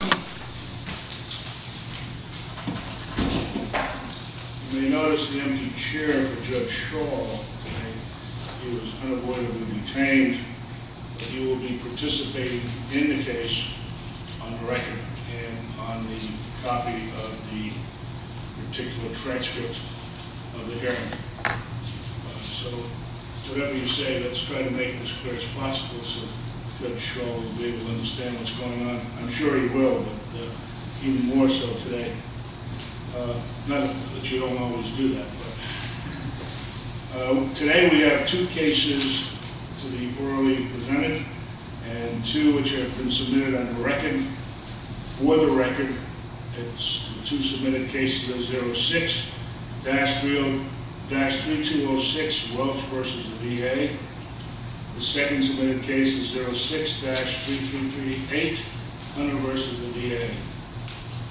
You may notice the empty chair for Judge Shaw. He was unavoidably detained, but he will be participating in the case on the record and on the copy of the particular transcript of the hearing. So, whatever you say, let's try to make it as clear as possible so Judge Shaw will be able to understand what's going on. I'm sure he will, but even more so today. Not that you don't always do that, but... Today we have two cases to be orally presented and two which have been submitted on the record. For the record, the two submitted cases are 06-3206, Welch v. DA. The second submitted case is 06-3338, Hunter v. DA.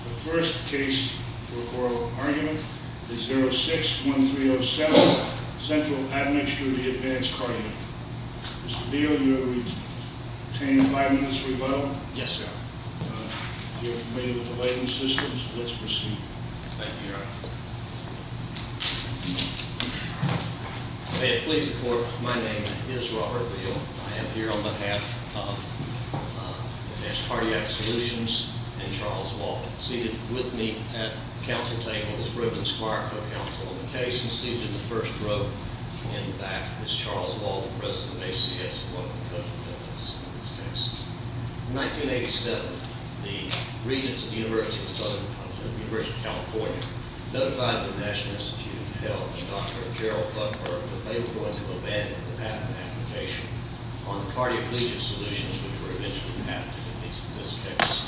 The first case for oral argument is 06-1307, Central Admixture v. Advanced Cardia. Mr. Neal, you will retain five minutes rebuttal. Yes, sir. If you're familiar with the waiting systems, let's proceed. Thank you, Your Honor. May it please the Court, my name is Robert Neal. I am here on behalf of Advanced Cardiac Solutions and Charles Walden. Seated with me at the counsel table is Reuben Squire, co-counsel on the case, and seated in the first row in the back is Charles Walden, president of ACS, one of the co-dependents of this case. In 1987, the regents of the University of Southern California, the University of California, notified the National Institute of Health and Dr. Gerald Buckberg that they were going to abandon the patent application on the cardioplegia solutions which were eventually patented in this case.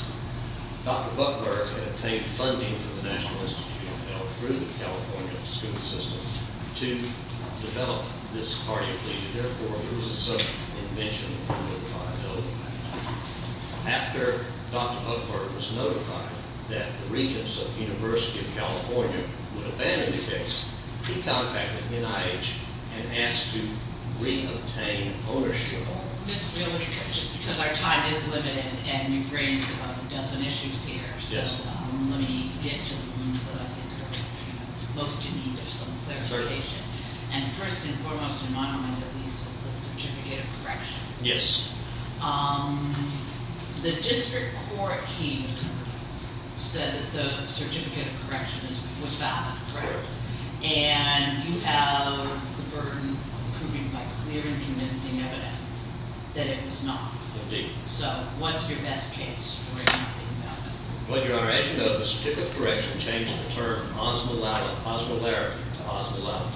Dr. Buckberg had obtained funding from the National Institute of Health through the California school system to develop this cardioplegia. Therefore, it was a sudden invention of the liability patent. After Dr. Buckberg was notified that the regents of the University of California would abandon the case, he contacted NIH and asked to reobtain ownership of the patent. Just because our time is limited and we've raised about a dozen issues here, so let me get to the point that I think most in need of some clarification. And first and foremost in my mind at least is the certificate of correction. Yes. The district court here said that the certificate of correction was valid, right? Correct. And you have the burden of proving by clear and convincing evidence that it was not. Indeed. So what's your best case where you're not thinking about that? Well, Your Honor, as you know, the certificate of correction changed the term osmolarity to osmolality.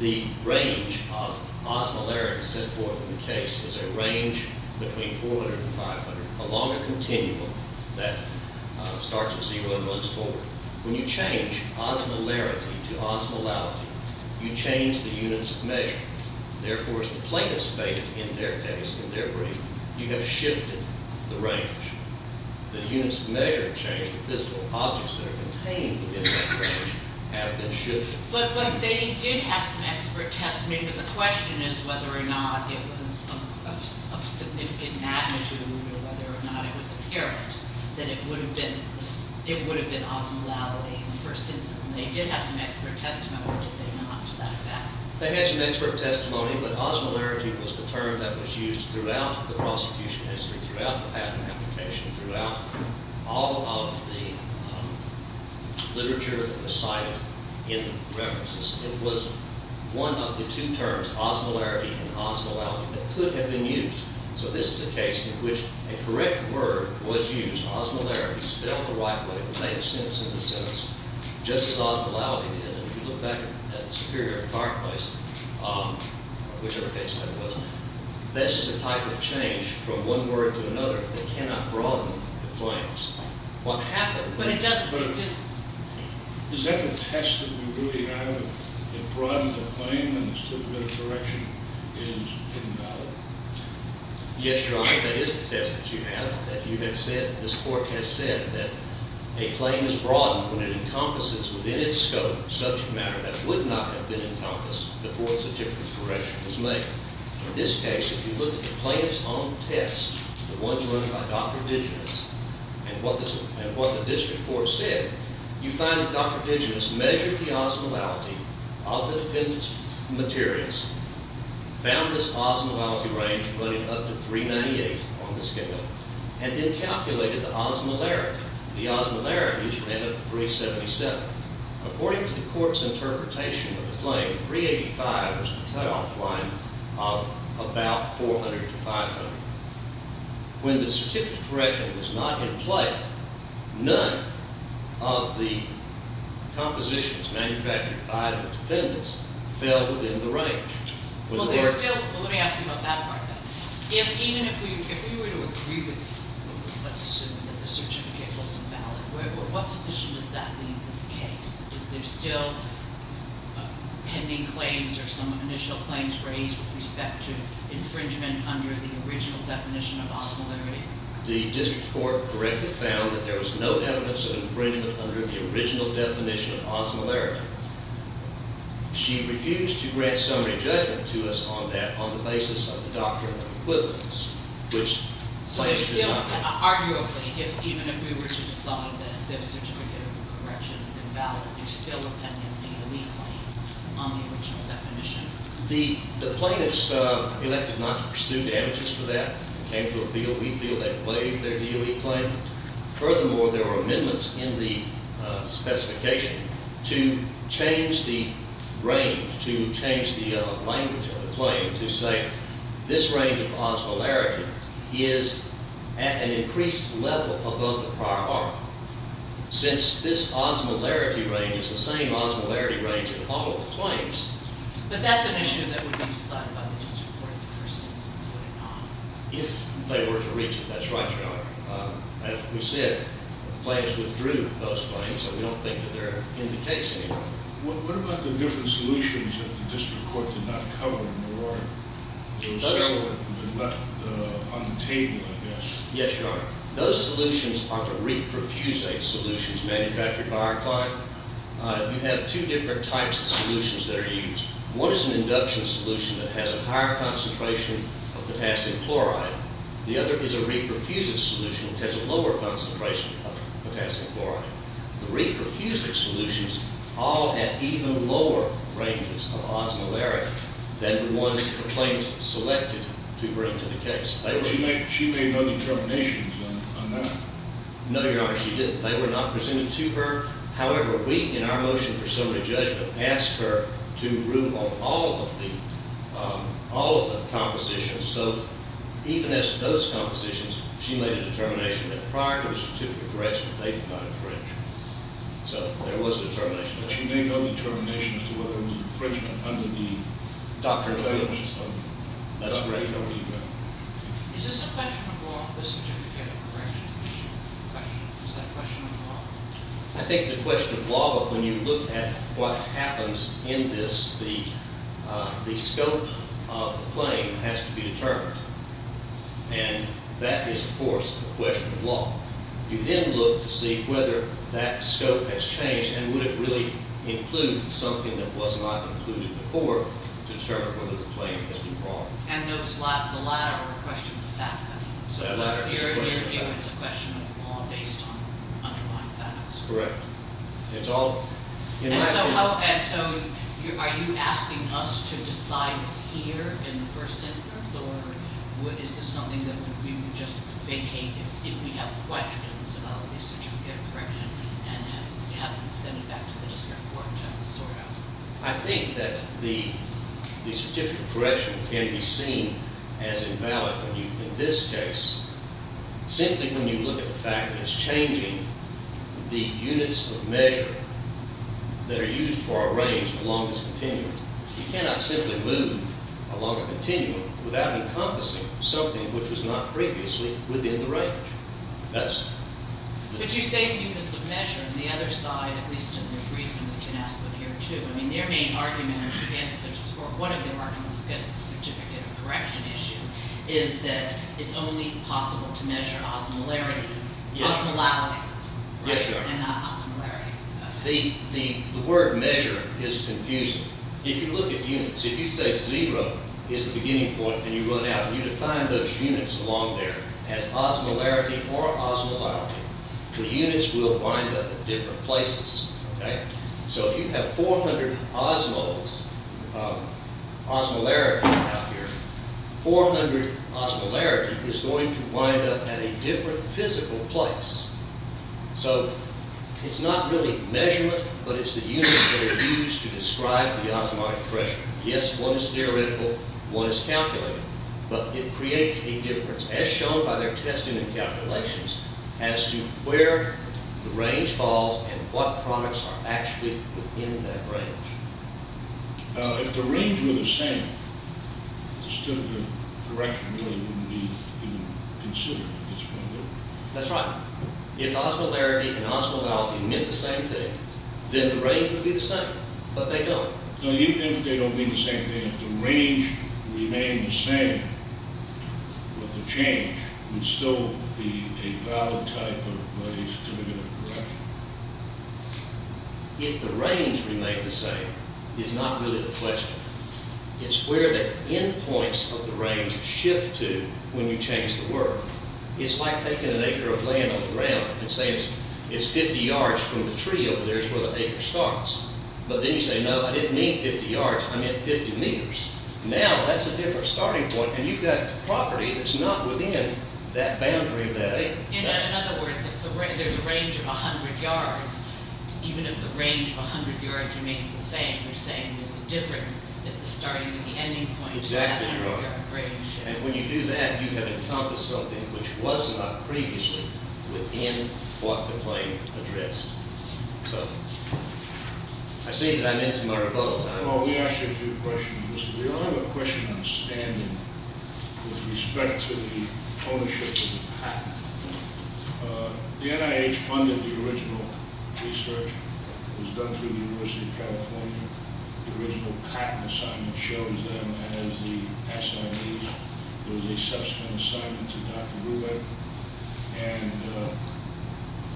The range of osmolarity set forth in the case is a range between 400 and 500 along a continuum that starts at zero and runs forward. When you change osmolarity to osmolality, you change the units of measure. Therefore, as the plaintiff stated in their case, in their brief, you have shifted the range. The units of measure changed. The physical objects that are contained within that range have been shifted. But they did have some expert testimony, but the question is whether or not it was of significant magnitude or whether or not it was apparent that it would have been osmolality in the first instance. And they did have some expert testimony, did they not, to that effect? They had some expert testimony, but osmolarity was the term that was used throughout the prosecution history, throughout the patent application, throughout all of the literature that was cited in the references. It was one of the two terms, osmolarity and osmolality, that could have been used. So this is a case in which a correct word was used, osmolarity, spelled the right way, the plaintiff's sentence in the sentence, just as osmolality did. And if you look back at the Superior Fireplace, whichever case that was, this is a type of change from one word to another that cannot broaden the claims. Is that the test that we really have that broadens a claim when a correction is invalid? Yes, Your Honor, that is the test that you have, that you have said, that this Court has said, that a claim is broadened when it encompasses within its scope subject matter that would not have been encompassed before such a correction was made. In this case, if you look at the plaintiff's own test, the ones run by Dr. Digeness, and what the district court said, you find that Dr. Digeness measured the osmolality of the defendant's materials, found this osmolality range running up to 398 on the schedule, and then calculated the osmolarity. The osmolarity should end up at 377. According to the court's interpretation of the claim, 385 was the playoff line of about 400 to 500. When the certificate correction was not in play, none of the compositions manufactured by the defendants fell within the range. Let me ask you about that part, though. Even if we were to agree with you, let's assume that the certificate was invalid, what position does that leave this case? Is there still pending claims or some initial claims raised with respect to infringement under the original definition of osmolarity? The district court correctly found that there was no evidence of infringement under the original definition of osmolarity. She refused to grant summary judgment to us on that on the basis of the doctrine of equivalence, which… Arguably, even if we were to decide that the certificate of correction is invalid, there's still a pending DLE claim on the original definition. The plaintiffs elected not to pursue damages for that and came to appeal. We feel they've waived their DLE claim. Furthermore, there were amendments in the specification to change the range, to change the language of the claim to say this range of osmolarity is at an increased level above the prior article. Since this osmolarity range is the same osmolarity range in all of the claims… But that's an issue that would be decided by the district court in the first instance, would it not? If they were to reach it, that's right, Your Honor. As we said, the plaintiffs withdrew those claims, so we don't think that they're in the case anymore. What about the different solutions that the district court did not cover in the warrant? Those were left on the table, I guess. Yes, Your Honor. Those solutions are the reprofusate solutions manufactured by our client. You have two different types of solutions that are used. One is an induction solution that has a higher concentration of potassium chloride. The other is a reprofusate solution that has a lower concentration of potassium chloride. The reprofusate solutions all have even lower ranges of osmolarity than the ones the plaintiffs selected to bring to the case. She made no determinations on that. No, Your Honor, she didn't. They were not presented to her. However, we, in our motion for summary judgment, asked her to rule on all of the compositions. So even as to those compositions, she made a determination that prior to the certificate of correction that they could not infringe. So there was determination there. But she made no determination as to whether it would be infringement under the doctrine. That's correct. Is this a question of law, the certificate of correction? Is that a question of law? I think it's a question of law. But when you look at what happens in this, the scope of the claim has to be determined. And that is, of course, a question of law. You then look to see whether that scope has changed and would it really include something that was not included before to determine whether the claim has been wrong. And the latter are questions of fact. So it's a question of law based on underlying facts. Correct. And so are you asking us to decide here in the first instance? Or is this something that we would just vacate if we have questions about the certificate of correction and have it sent back to the district court to have it sorted out? I think that the certificate of correction can be seen as invalid in this case simply when you look at the fact that it's changing the units of measure that are used for a range along this continuum. You cannot simply move along a continuum without encompassing something which was not previously within the range. But you say units of measure. On the other side, at least in the briefing, we can ask them here, too. I mean, their main argument against this, or one of their arguments against the certificate of correction issue, is that it's only possible to measure osmolarity. Yeah. Osmolality. Yes, Your Honor. And not osmolarity. The word measure is confusing. If you look at units, if you say zero is the beginning point and you run out and you define those units along there as osmolarity or osmolarity, the units will wind up at different places. Okay? So if you have 400 osmos, osmolarity out here, 400 osmolarity is going to wind up at a different physical place. So it's not really measurement, but it's the units that are used to describe the osmotic pressure. Yes, one is theoretical, one is calculated. But it creates a difference, as shown by their testing and calculations, as to where the range falls and what products are actually within that range. If the range were the same, the certificate of correction really wouldn't be considered. That's right. If osmolarity and osmolality meant the same thing, then the range would be the same. But they don't. No, even if they don't mean the same thing, if the range remained the same with the change, it would still be a valid type of money certificate of correction. If the range remained the same is not really the question. It's where the end points of the range shift to when you change the work. It's like taking an acre of land on the ground and saying it's 50 yards from the tree over there is where the acre starts. But then you say, no, I didn't mean 50 yards, I meant 50 meters. Now that's a different starting point, and you've got property that's not within that boundary of that acre. In other words, if there's a range of 100 yards, even if the range of 100 yards remains the same, you're saying there's a difference at the starting and the ending point. Exactly right. And when you do that, you have encompassed something which was not previously within what the claim addressed. I see that I'm into my rebuttal time. We asked you a few questions. We only have a question on standing with respect to the ownership of the patent. The NIH funded the original research. It was done through the University of California. The original patent assignment shows them as the assignees. There was a subsequent assignment to Dr. Brubeck. And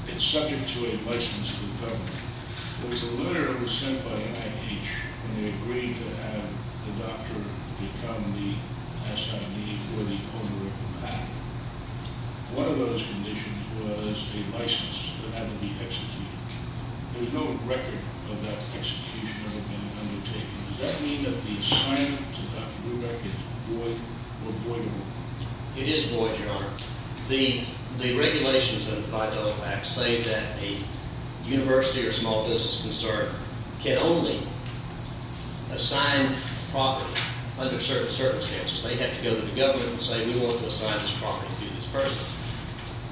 it's subject to a license from the government. There was a letter that was sent by the NIH when they agreed to have the doctor become the assignee for the owner of the patent. One of those conditions was a license that had to be executed. There's no record of that execution ever being undertaken. Does that mean that the assignment to Dr. Brubeck is void or voidable? It is void, Your Honor. The regulations that apply to OFAC say that a university or small business concerned can only assign property under certain circumstances. They have to go to the government and say, we want to assign this property to this person.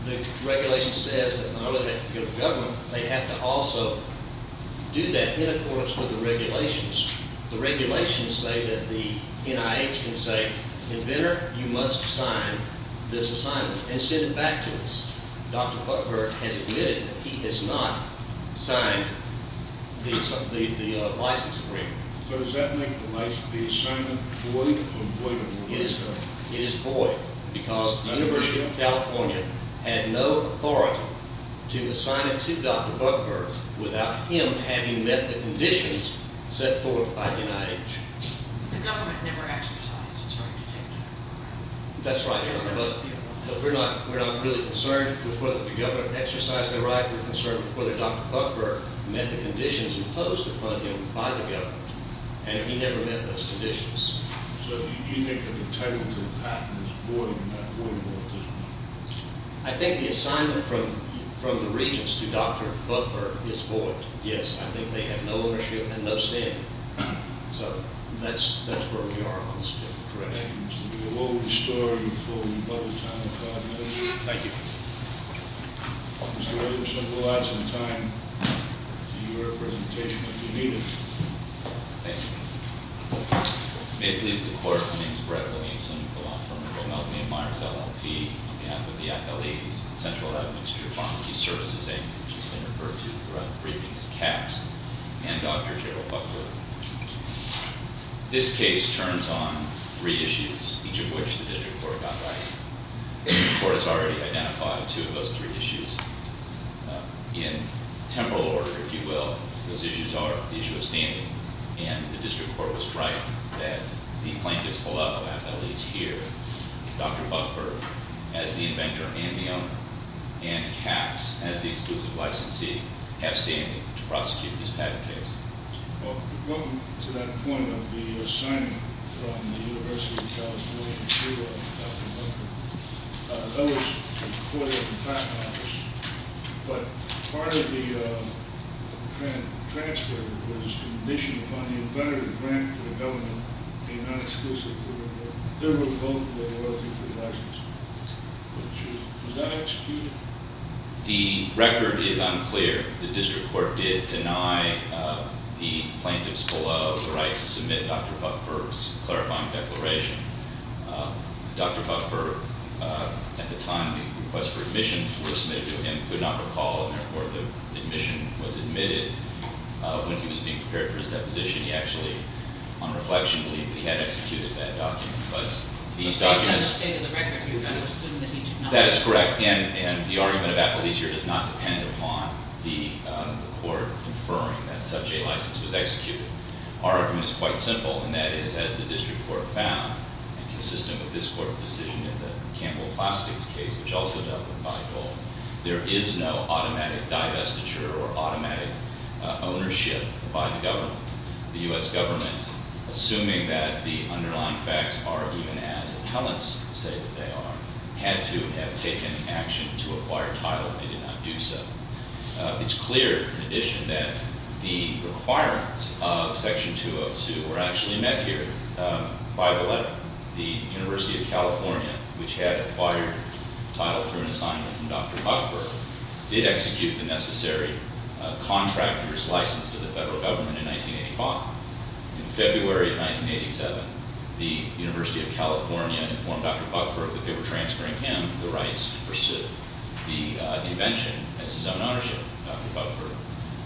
The regulation says that not only do they have to go to government, they have to also do that in accordance with the regulations. The regulations say that the NIH can say, inventor, you must sign this assignment and send it back to us. Dr. Buckberg has admitted that he has not signed the license agreement. So does that make the assignment void or voidable? It is void. Because the University of California had no authority to assign it to Dr. Buckberg without him having met the conditions set forth by the NIH. The government never exercised its right to take it. That's right, Your Honor. But we're not really concerned with whether the government exercised their right. We're concerned with whether Dr. Buckberg met the conditions imposed upon him by the government. And he never met those conditions. So do you think that the title to the patent is void and not voidable at this point? I think the assignment from the Regents to Dr. Buckberg is void, yes. I think they have no ownership and no say in it. So that's where we are on this particular question. Thank you. We will restore you for your time, if God wills it. Thank you. Mr. Williams, we'll add some time to your presentation if you need it. Thank you. May it please the Court, my name is Brett Williamson. I belong to the Montgomery & Myers LLP on behalf of the FLEs, the Central Administrative Pharmacy Services Agency, which has been referred to throughout the briefing as CAPS, and Dr. Gerald Buckberg. This case turns on three issues, each of which the district court got right. The court has already identified two of those three issues. In temporal order, if you will, those issues are the issue of standing. And the district court was right that the plaintiff's holdout of FLEs here, Dr. Buckberg as the inventor and the owner, and CAPS as the exclusive licensee, have standing to prosecute this patent case. Well, to go to that point of the assignment from the University of California, I know it was reported in the patent office, but part of the transfer was conditioned upon the inventor to grant the element a non-exclusive liability. There were both liabilities for the licensee. Was that executed? The record is unclear. The district court did deny the plaintiffs below the right to submit Dr. Buckberg's clarifying declaration. Dr. Buckberg, at the time the request for admission was submitted to him, could not recall, and therefore the admission was admitted when he was being prepared for his deposition. He actually, on reflection, believed he had executed that document. Based on the state of the record, you can assume that he did not. That is correct. And the argument of FLEs here does not depend upon the court inferring that such a license was executed. Our argument is quite simple, and that is, as the district court found, consistent with this court's decision in the Campbell Classics case, which also dealt with by goal, there is no automatic divestiture or automatic ownership by the government. The U.S. government, assuming that the underlying facts are even as appellants say that they are, had to have taken action to acquire title. They did not do so. It's clear, in addition, that the requirements of Section 202 were actually met here by the letter. The University of California, which had acquired title through an assignment from Dr. Buckberg, did execute the necessary contractor's license to the federal government in 1985. In February of 1987, the University of California informed Dr. Buckberg that they were transferring him the rights to pursue the invention as his own ownership. Dr. Buckberg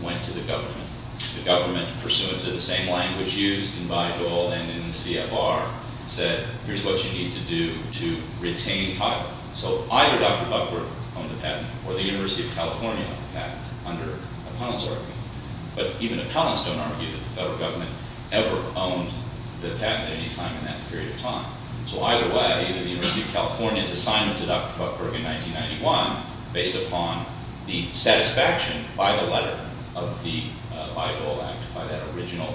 went to the government. The government, pursuant to the same language used in by goal and in the CFR, said, here's what you need to do to retain title. So either Dr. Buckberg owned the patent, or the University of California owned the patent, under appellant's argument. But even appellants don't argue that the federal government ever owned the patent at any time in that period of time. So either way, the University of California's assignment to Dr. Buckberg in 1991, based upon the satisfaction by the letter of the by goal act, by that original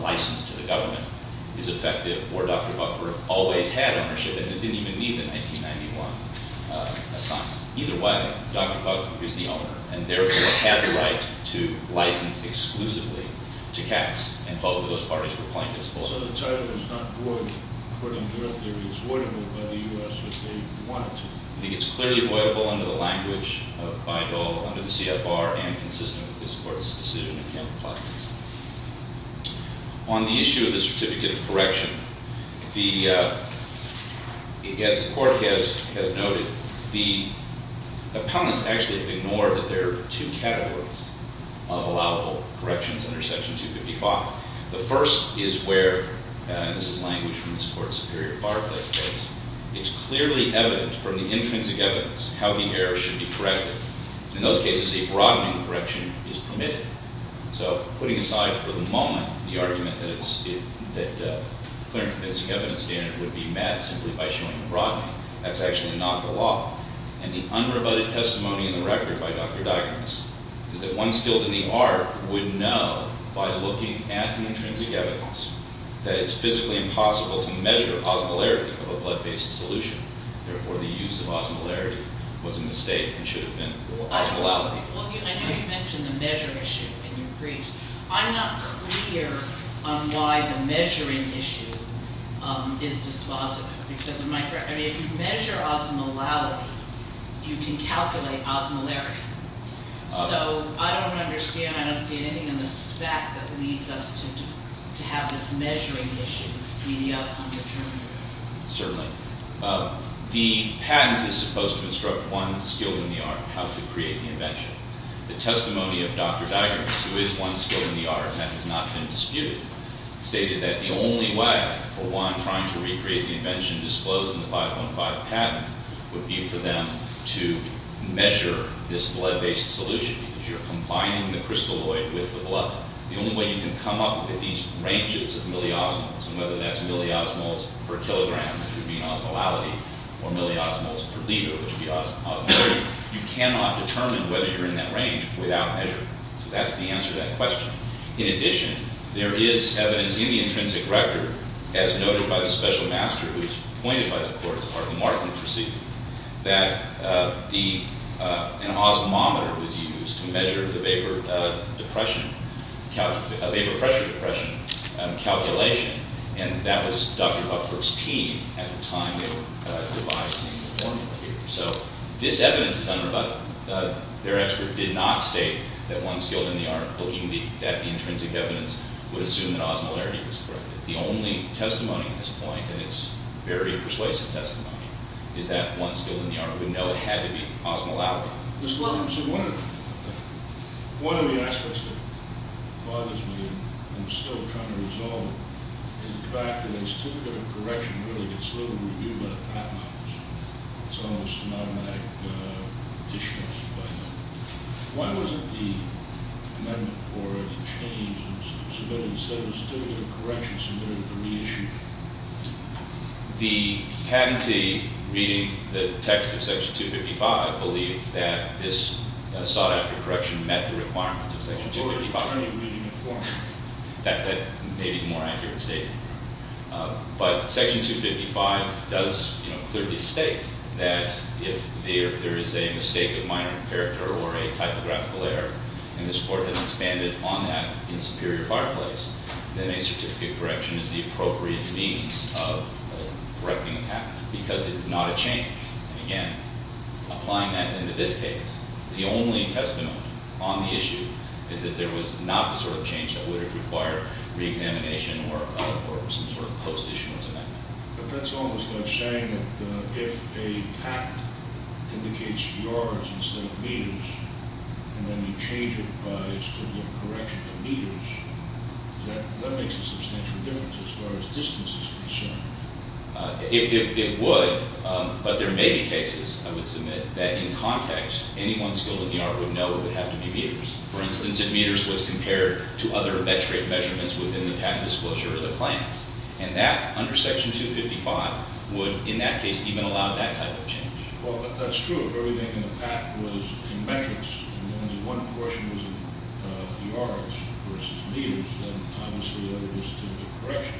license to the government, is effective, or Dr. Buckberg always had ownership, and it didn't even need the 1991 assignment. Either way, Dr. Buckberg is the owner, and therefore had the right to license exclusively to caps. And both of those parties were plaintiffs. So the title is not void according to their theory. It's voidable by the U.S. if they wanted to. I think it's clearly voidable under the language of by goal, under the CFR, and consistent with this court's decision in the appellant process. On the issue of the certificate of correction, as the court has noted, the appellants actually have ignored that there are two categories of allowable corrections under Section 255. The first is where, and this is language from this court's superior bar test case, it's clearly evident from the intrinsic evidence how the error should be corrected. In those cases, a broadening correction is permitted. So putting aside for the moment the argument that a clear intrinsic evidence standard would be met simply by showing a broadening, that's actually not the law. And the unrebutted testimony in the record by Dr. Diagnos is that one skilled in the art would know by looking at the intrinsic evidence that it's physically impossible to measure osmolarity of a blood-based solution. Therefore, the use of osmolarity was a mistake and should have been osmolality. I know you mentioned the measure issue in your briefs. I'm not clear on why the measuring issue is dispositive. Because if you measure osmolality, you can calculate osmolarity. So I don't understand. I don't see anything in the spec that leads us to have this measuring issue be the outcome determined. Certainly. The patent is supposed to instruct one skilled in the art how to create the invention. The testimony of Dr. Diagnos, who is one skilled in the art and has not been disputed, stated that the only way for one trying to recreate the invention disclosed in the 515 patent would be for them to measure this blood-based solution, because you're combining the crystalloid with the blood. The only way you can come up with these ranges of milliosmals, and whether that's milliosmals per kilogram, which would be osmolality, or milliosmals per liter, which would be osmolarity, you cannot determine whether you're in that range without measuring. So that's the answer to that question. In addition, there is evidence in the intrinsic record, as noted by the special master who was appointed by the court as part of the Markham Procedure, that an osmometer was used to measure the vapor pressure depression calculation, and that was Dr. Buckford's team at the time they were devising the formula here. So this evidence is unrebuttable. Their expert did not state that one skilled in the art, looking at the intrinsic evidence, would assume that osmolarity was correct. The only testimony at this point, and it's very persuasive testimony, is that one skilled in the art would know it had to be osmolality. Mr. Buckford, one of the aspects that bothers me, and I'm still trying to resolve, is the fact that a certificate of correction really gets little review by the patent office. It's almost a non-manic addition, by no means. Why wasn't the amendment or the change submitted instead of a certificate of correction submitted to reissue? The patentee reading the text of Section 255 believed that this sought-after correction met the requirements of Section 255. Or any reading of formula. That may be the more accurate statement. But Section 255 does clearly state that if there is a mistake of minor character or a typographical error, and this court has expanded on that in Superior Fireplace, then a certificate of correction is the appropriate means of correcting a patent. Because it's not a change. And again, applying that into this case, the only testimony on the issue is that there was not the sort of change that would have required reexamination or some sort of post-issue amendment. But that's almost like saying that if a patent indicates yards instead of meters, and then you change it by a certificate of correction to meters, that makes a substantial difference as far as distance is concerned. It would, but there may be cases, I would submit, that in context, anyone skilled in the art would know it would have to be meters. For instance, if meters was compared to other metric measurements within the patent disclosure of the claims. And that, under Section 255, would, in that case, even allow that type of change. Well, that's true. If everything in the patent was in metrics, and only one portion was in yards versus meters, then obviously that would be a certificate of correction.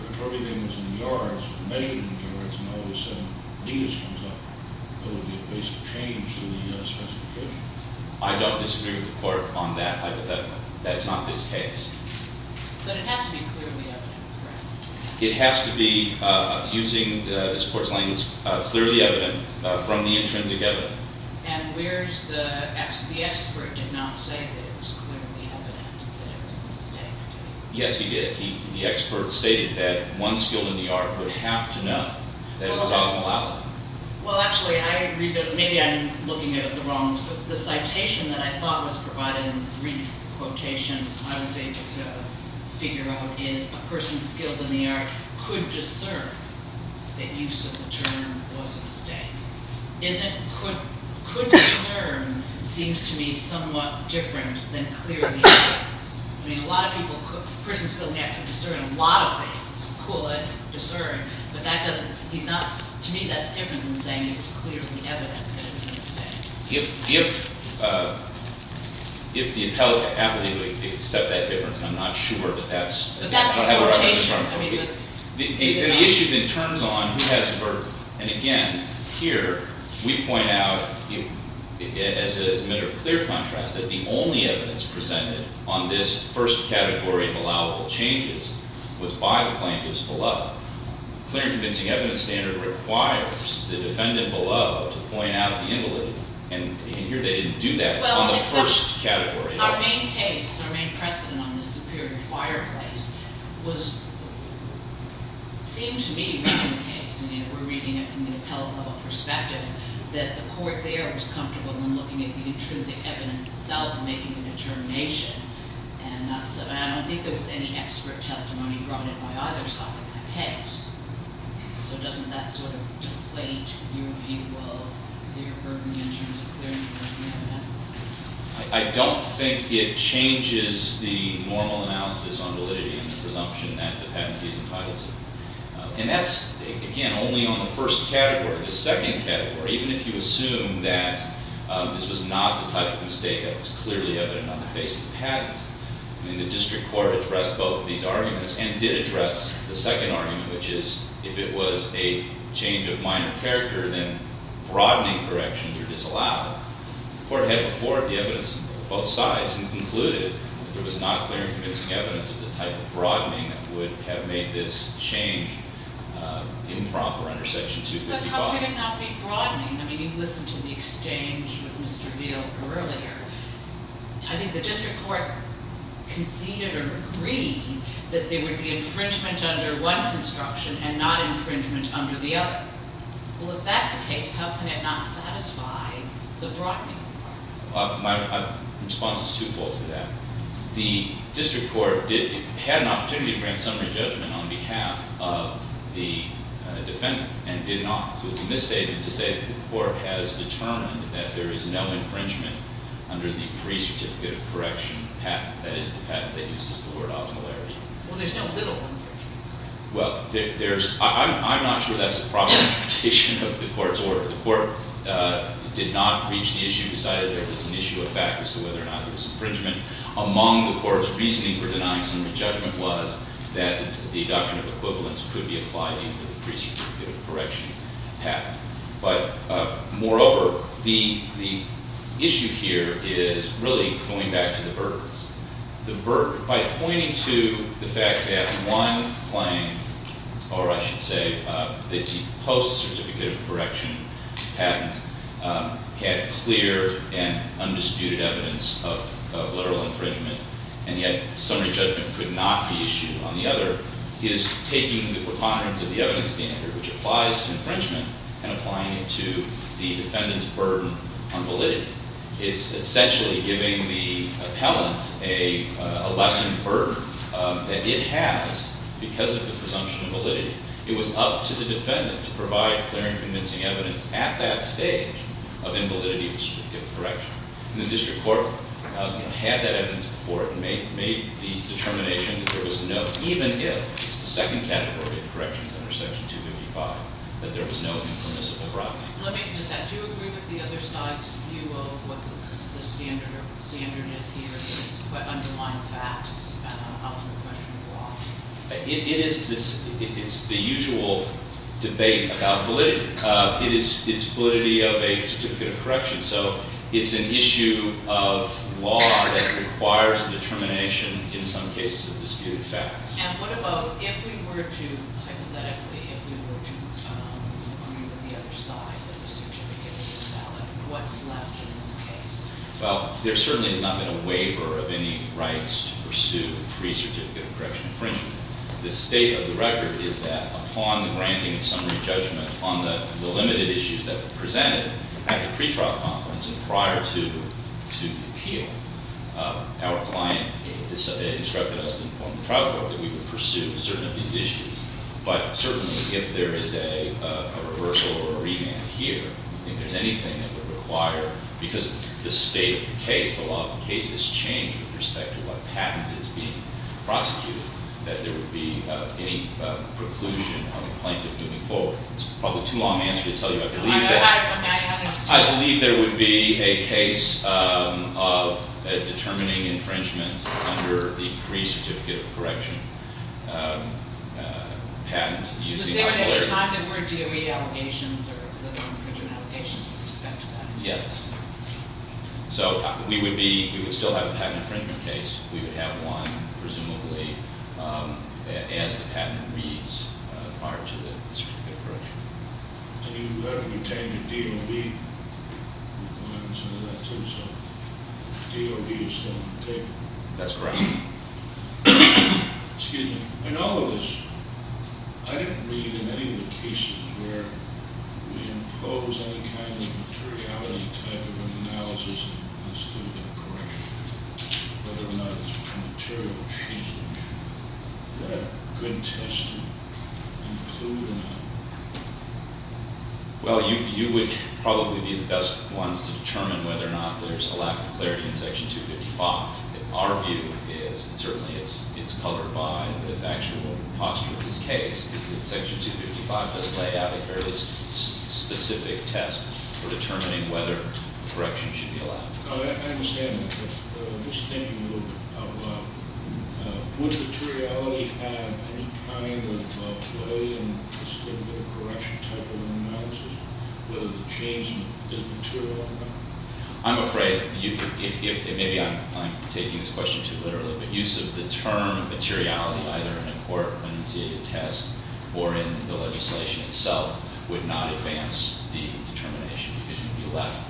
But if everything was in yards, measured in yards, and all of a sudden meters comes up, it would be a basic change in the specification. I don't disagree with the court on that hypothetical. That's not this case. But it has to be clearly evident, correct? It has to be, using this court's language, clearly evident from the intrinsic evidence. And where's the, actually the expert did not say that it was clearly evident that it was a mistake. Yes, he did. The expert stated that one skilled in the art would have to know that it was osmolalic. Well, actually, maybe I'm looking at it the wrong way. The citation that I thought was provided in the brief quotation I was able to figure out is a person skilled in the art could discern that use of the term was a mistake. Could discern seems to me somewhat different than clearly evident. I mean, a lot of people, a person skilled in the art could discern a lot of things. But that doesn't, he's not, to me that's different than saying it was clearly evident that it was a mistake. If the appellate happily would accept that difference, I'm not sure, but that's But that's the quotation. The issue then turns on who has the verdict. And again, here, we point out as a measure of clear contrast that the only evidence presented on this first category of allowable changes was by the plaintiffs below. Clear and convincing evidence standard requires the defendant below to point out the invalid. And here they didn't do that on the first category. Our main case, our main precedent on the Superior Fireplace was, seemed to me, in the case, and we're reading it from the appellate level perspective, that the court there was comfortable in looking at the intrinsic evidence itself while making the determination. And I don't think there was any expert testimony brought in by either side of the case. So doesn't that sort of deflate your view of, your burden in terms of clear and convincing evidence? I don't think it changes the normal analysis on validity and presumption that the patent is entitled to. And that's, again, only on the first category. The second category, even if you assume that this was not the type of mistake that was clearly evident on the face of the patent, I mean, the district court addressed both of these arguments and did address the second argument, which is if it was a change of minor character, then broadening corrections are disallowed. The court had before the evidence of both sides and concluded that there was not clear and convincing evidence of the type of broadening that would have made this change improper under Section 255. Why would it not be broadening? I mean, you listened to the exchange with Mr. Veal earlier. I think the district court conceded or agreed that there would be infringement under one construction and not infringement under the other. Well, if that's the case, how can it not satisfy the broadening part? My response is twofold to that. The district court had an opportunity to grant summary judgment on behalf of the defendant and did not. So it's a misstatement to say that the court has determined that there is no infringement under the pre-certificate of correction patent. That is the patent that uses the word osmolarity. Well, there's no little infringement. Well, I'm not sure that's the proper interpretation of the court's order. The court did not reach the issue, decided there was an issue of fact as to whether or not there was infringement. Among the court's reasoning for denying summary judgment was that the deduction of equivalence could be applied in the pre-certificate of correction patent. But moreover, the issue here is really going back to the burdens. By pointing to the fact that one claim, or I should say the post-certificate of correction patent, had clear and undisputed evidence of literal infringement, and yet summary judgment could not be issued on the other, is taking the preponderance of the evidence standard, which applies to infringement, and applying it to the defendant's burden on validity. It's essentially giving the appellant a lessened burden that it has because of the presumption of validity. It was up to the defendant to provide clear and convincing evidence at that stage of invalidity in the pre-certificate of correction. And the district court had that evidence before it and made the determination that there was no, even if it's the second category of corrections under Section 255, that there was no impermissible property. Let me just add, do you agree with the other side's view of what the standard is here, what underlines facts, and how can the question evolve? It is the usual debate about validity. It is validity of a certificate of correction. So it's an issue of law that requires determination in some cases of disputed facts. And what about if we were to, hypothetically, if we were to argue with the other side, that the certificate is valid, what's left in this case? Well, there certainly has not been a waiver of any rights to pursue pre-certificate of correction infringement. The state of the record is that upon the granting of summary judgment on the limited issues that were presented at the pre-trial conference and prior to the appeal, our client instructed us to inform the trial court that we would pursue certain of these issues. But certainly, if there is a reversal or a remand here, if there's anything that would require, because the state of the case, the law of the case has changed with respect to what patent is being prosecuted, that there would be any preclusion on the plaintiff moving forward. It's probably too long an answer to tell you. I believe there would be a case of determining infringement under the pre-certificate of correction patent. Was there at any time there were DOE allegations or infringement allegations with respect to that? Yes. So we would still have a patent infringement case. We would have one, presumably, as the patent reads prior to the certificate of correction. And you have retained a DOB. We've gotten some of that too, so DOB is still on the table. That's correct. Excuse me. In all of this, I didn't read in any of the cases where we impose any kind of materiality type of analysis on the certificate of correction. Whether or not there's a material change that a good tester included in that. Well, you would probably be the best ones to determine whether or not there's a lack of clarity in Section 255. Our view is, and certainly it's colored by the factual posture of this case, is that Section 255 does lay out a fairly specific test for determining whether correction should be allowed. I understand that. But just thinking a little bit about that, would materiality have any kind of play in the certificate of correction type of analysis? Whether the change is material or not? I'm afraid, maybe I'm taking this question too literally, but use of the term materiality either in a court-initiated test or in the legislation itself would not advance the determination because you'd be left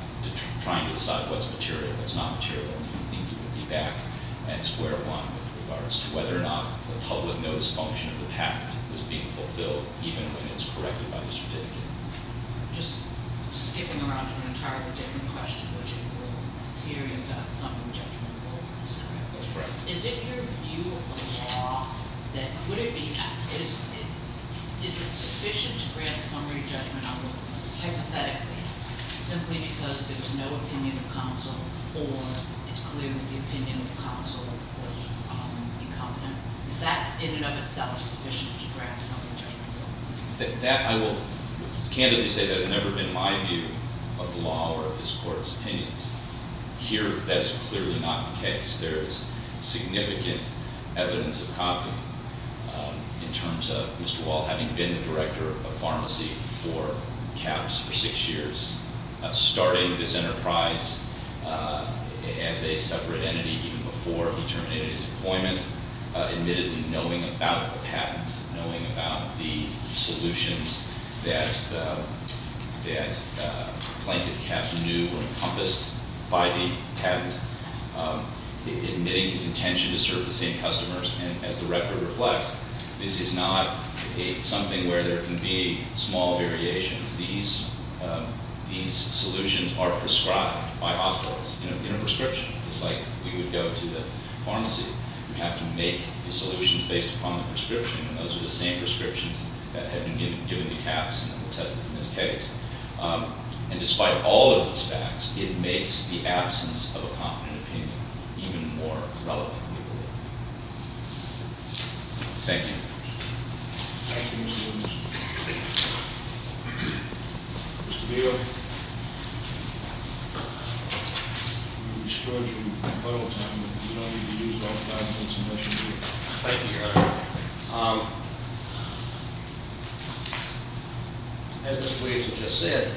trying to decide what's material, what's not material, and you would think you would be back at square one with regards to whether or not the public notice function of the patent was being fulfilled, even when it's corrected by the certificate. Just skipping around to an entirely different question, which is the role of the hearing to have summary judgment over. Correct. Is it your view of the law that would it be, is it sufficient to grant summary judgment hypothetically, simply because there's no opinion of counsel or it's clear that the opinion of counsel would be competent? Is that in and of itself sufficient to grant summary judgment? That I will candidly say that has never been my view of the law or of this court's opinions. Here, that is clearly not the case. There is significant evidence of copy in terms of Mr. Wall having been the director of pharmacy for CAHPS for six years, starting this enterprise as a separate entity even before he terminated his employment, admittedly knowing about the patent, knowing about the solutions that plaintiff CAHPS knew were encompassed by the patent. Admitting his intention to serve the same customers, and as the record reflects, this is not something where there can be small variations. These solutions are prescribed by hospitals in a prescription. It's like we would go to the pharmacy. We have to make the solutions based upon the prescription, and those are the same prescriptions that have been given to CAHPS and tested in this case. And despite all of these facts, it makes the absence of a competent opinion even more relevant, we believe. Thank you. Thank you, Mr. Williams. Mr. Beal. Mr. Beal. Thank you, Your Honor. As Mr. Williams just said,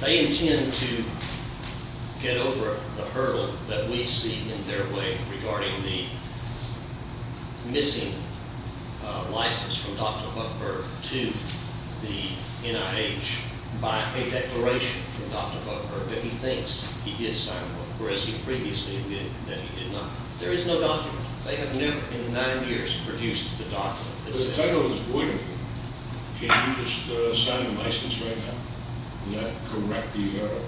they intend to get over the hurdle that we see in their way regarding the missing license from Dr. Buckberg to the NIH by a declaration from Dr. Buckberg that he thinks he did sign one, whereas he previously admitted that he did not. There is no document. They have never in nine years produced the document. The title is void of it. Can't you just sign the license right now and not correct the error?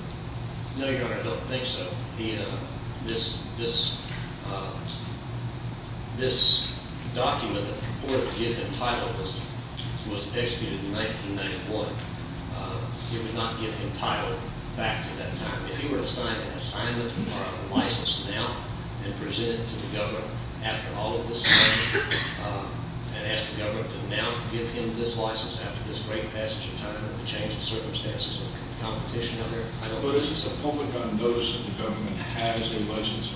No, Your Honor, I don't think so. This document that purported to give him title was executed in 1991. It would not give him title back to that time. If he were to sign a license now and present it to the government after all of this happened and ask the government to now give him this license after this great passage of time and the change of circumstances and the competition out there, I don't think- Is the public on notice that the government has a license?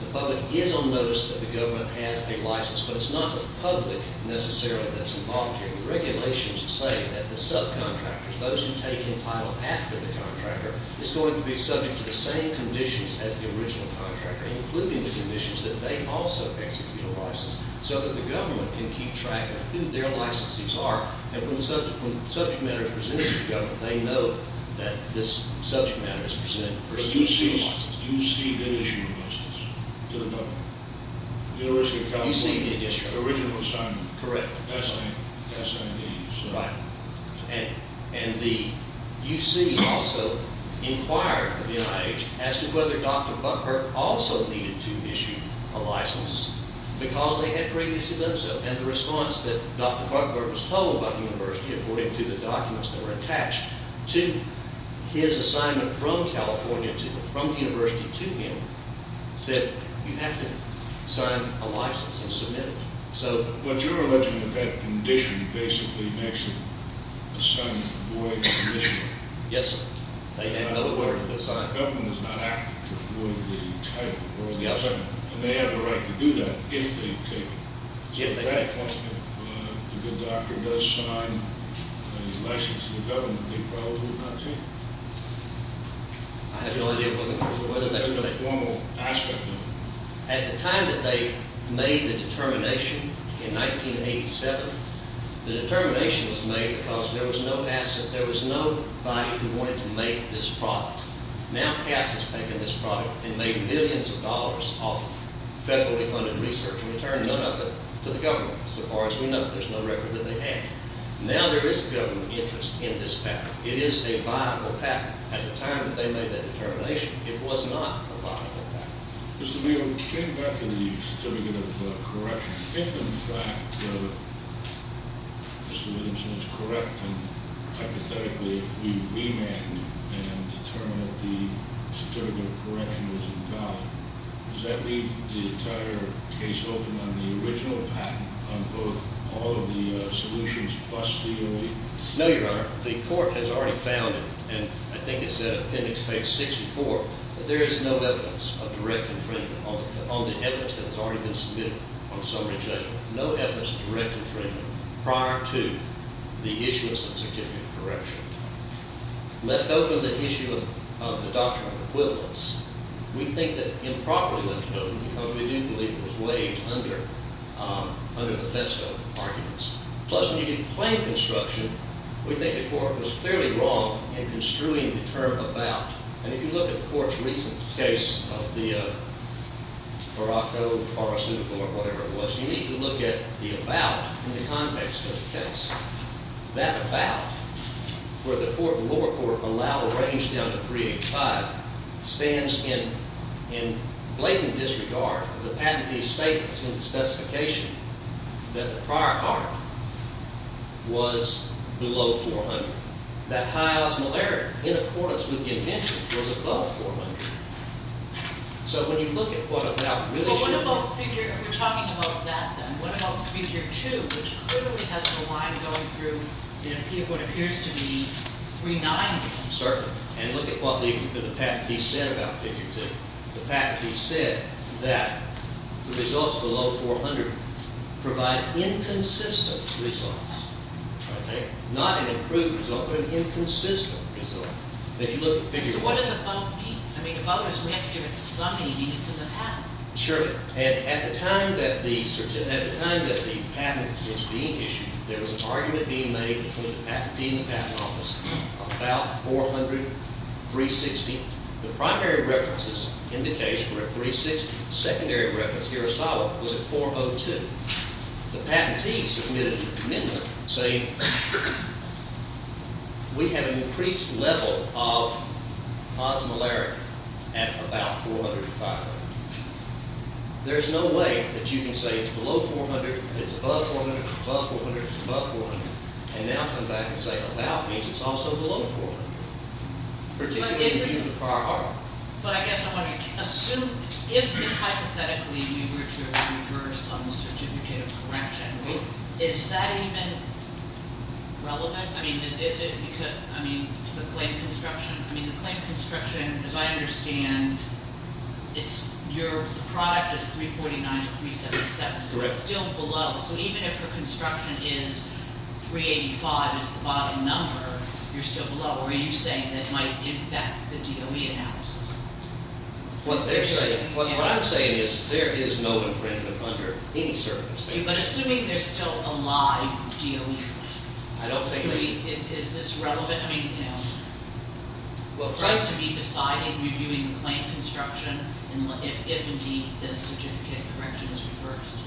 The public is on notice that the government has a license, but it's not the public necessarily that's involuntary. The regulations say that the subcontractors, those who take in title after the contractor, is going to be subject to the same conditions as the original contractor, including the conditions that they also execute a license, so that the government can keep track of who their licensees are. And when the subject matter is presented to the government, they know that this subject matter is presented to the government. But you see them issuing a license to the public? The University of California? You see them, yes, Your Honor. The original assignment? Correct. That same- Right. And the UC also inquired with the NIH as to whether Dr. Buckler also needed to issue a license because they had previously done so. And the response that Dr. Buckler was told by the university, according to the documents that were attached to his assignment from California, from the university to him, said you have to sign a license and submit it. So- But you're alleging that that condition basically makes the assignment void of the condition? Yes, sir. They have no authority to sign it. The government is not acting to avoid the title of the original assignment. Yes, sir. And they have the right to do that if they take it. To that point, if the doctor does sign a license to the government, they probably would not change it. I have no idea whether they would. That's a formal aspect of it. At the time that they made the determination in 1987, the determination was made because there was no asset, there was no body who wanted to make this product. Now CAPS has taken this product and made billions of dollars off of federally funded research. We returned none of it to the government. So far as we know, there's no record that they had. Now there is a government interest in this patent. It is a viable patent. At the time that they made that determination, it was not a viable patent. Mr. Beal, getting back to the certificate of correction, given the fact that Mr. Williamson is correct and hypothetically if we remand and determine that the certificate of correction was invalid, does that leave the entire case open on the original patent on both all of the solutions plus the OE? No, Your Honor. The court has already found, and I think it's in appendix page 64, that there is no evidence of direct infringement, on the evidence that has already been submitted on summary judgment. No evidence of direct infringement prior to the issuance of certificate of correction. Left open the issue of the doctrine of equivalence, we think that improperly left open because we do believe it was waived under Bethesda arguments. Plus when you get claim construction, we think the court was clearly wrong in construing the term about. And if you look at the court's recent case of the Morocco pharmaceutical or whatever it was, you need to look at the about in the context of the case. That about, where the lower court allowed a range down to 385, stands in blatant disregard of the patentee's statements in the specification that the prior art was below 400. That high osmolarity in accordance with the intention was above 400. So when you look at what about really should be. Well, what about figure, we're talking about that then. What about figure two, which clearly has a line going through what appears to be 390? Certainly. And look at what the patentee said about figure two. The patentee said that the results below 400 provide inconsistent results. Okay? Not an improved result, but an inconsistent result. If you look at figure two. So what does above mean? I mean above is we have to give it some evidence in the patent. Sure. And at the time that the patent was being issued, there was an argument being made between the patentee and the patent office about 400, 360. The primary references in the case were at 360. The secondary reference here was at 402. The patentee submitted a commitment saying we have an increased level of osmolarity at about 400 to 500. There's no way that you can say it's below 400, it's above 400, it's above 400, it's above 400, and now come back and say about means it's also below 400, particularly in the prior art. But I guess I'm wondering, assume if hypothetically you were to reverse on the certificate of correction, is that even relevant? I mean, the claim construction, as I understand, your product is 349 to 377. So it's still below. So even if the construction is 385 is the bottom number, you're still below. What are you saying that might impact the DOE analysis? What I'm saying is there is no infringement under any circumstances. But assuming there's still a live DOE claim. I don't think that. Is this relevant? I mean, you know. Well, for us to be deciding reviewing the claim construction if indeed the certificate of correction is reversed.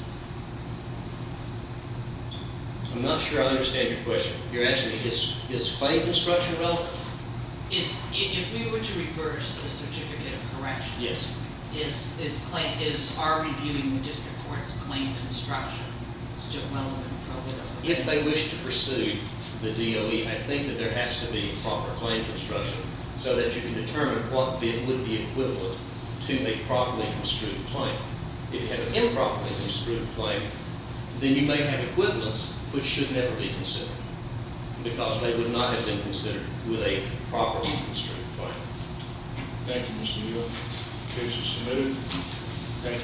I'm not sure I understand your question. You're asking me is claim construction relevant? If we were to reverse the certificate of correction, is our reviewing the district court's claim construction still relevant? If they wish to pursue the DOE, I think that there has to be proper claim construction so that you can determine what would be equivalent to a properly construed claim. If you have an improperly construed claim, then you may have equivalence which should never be considered because they would not have been considered with a properly construed claim. Thank you, Mr. Neal. Case is submitted. Thank you for your arguments.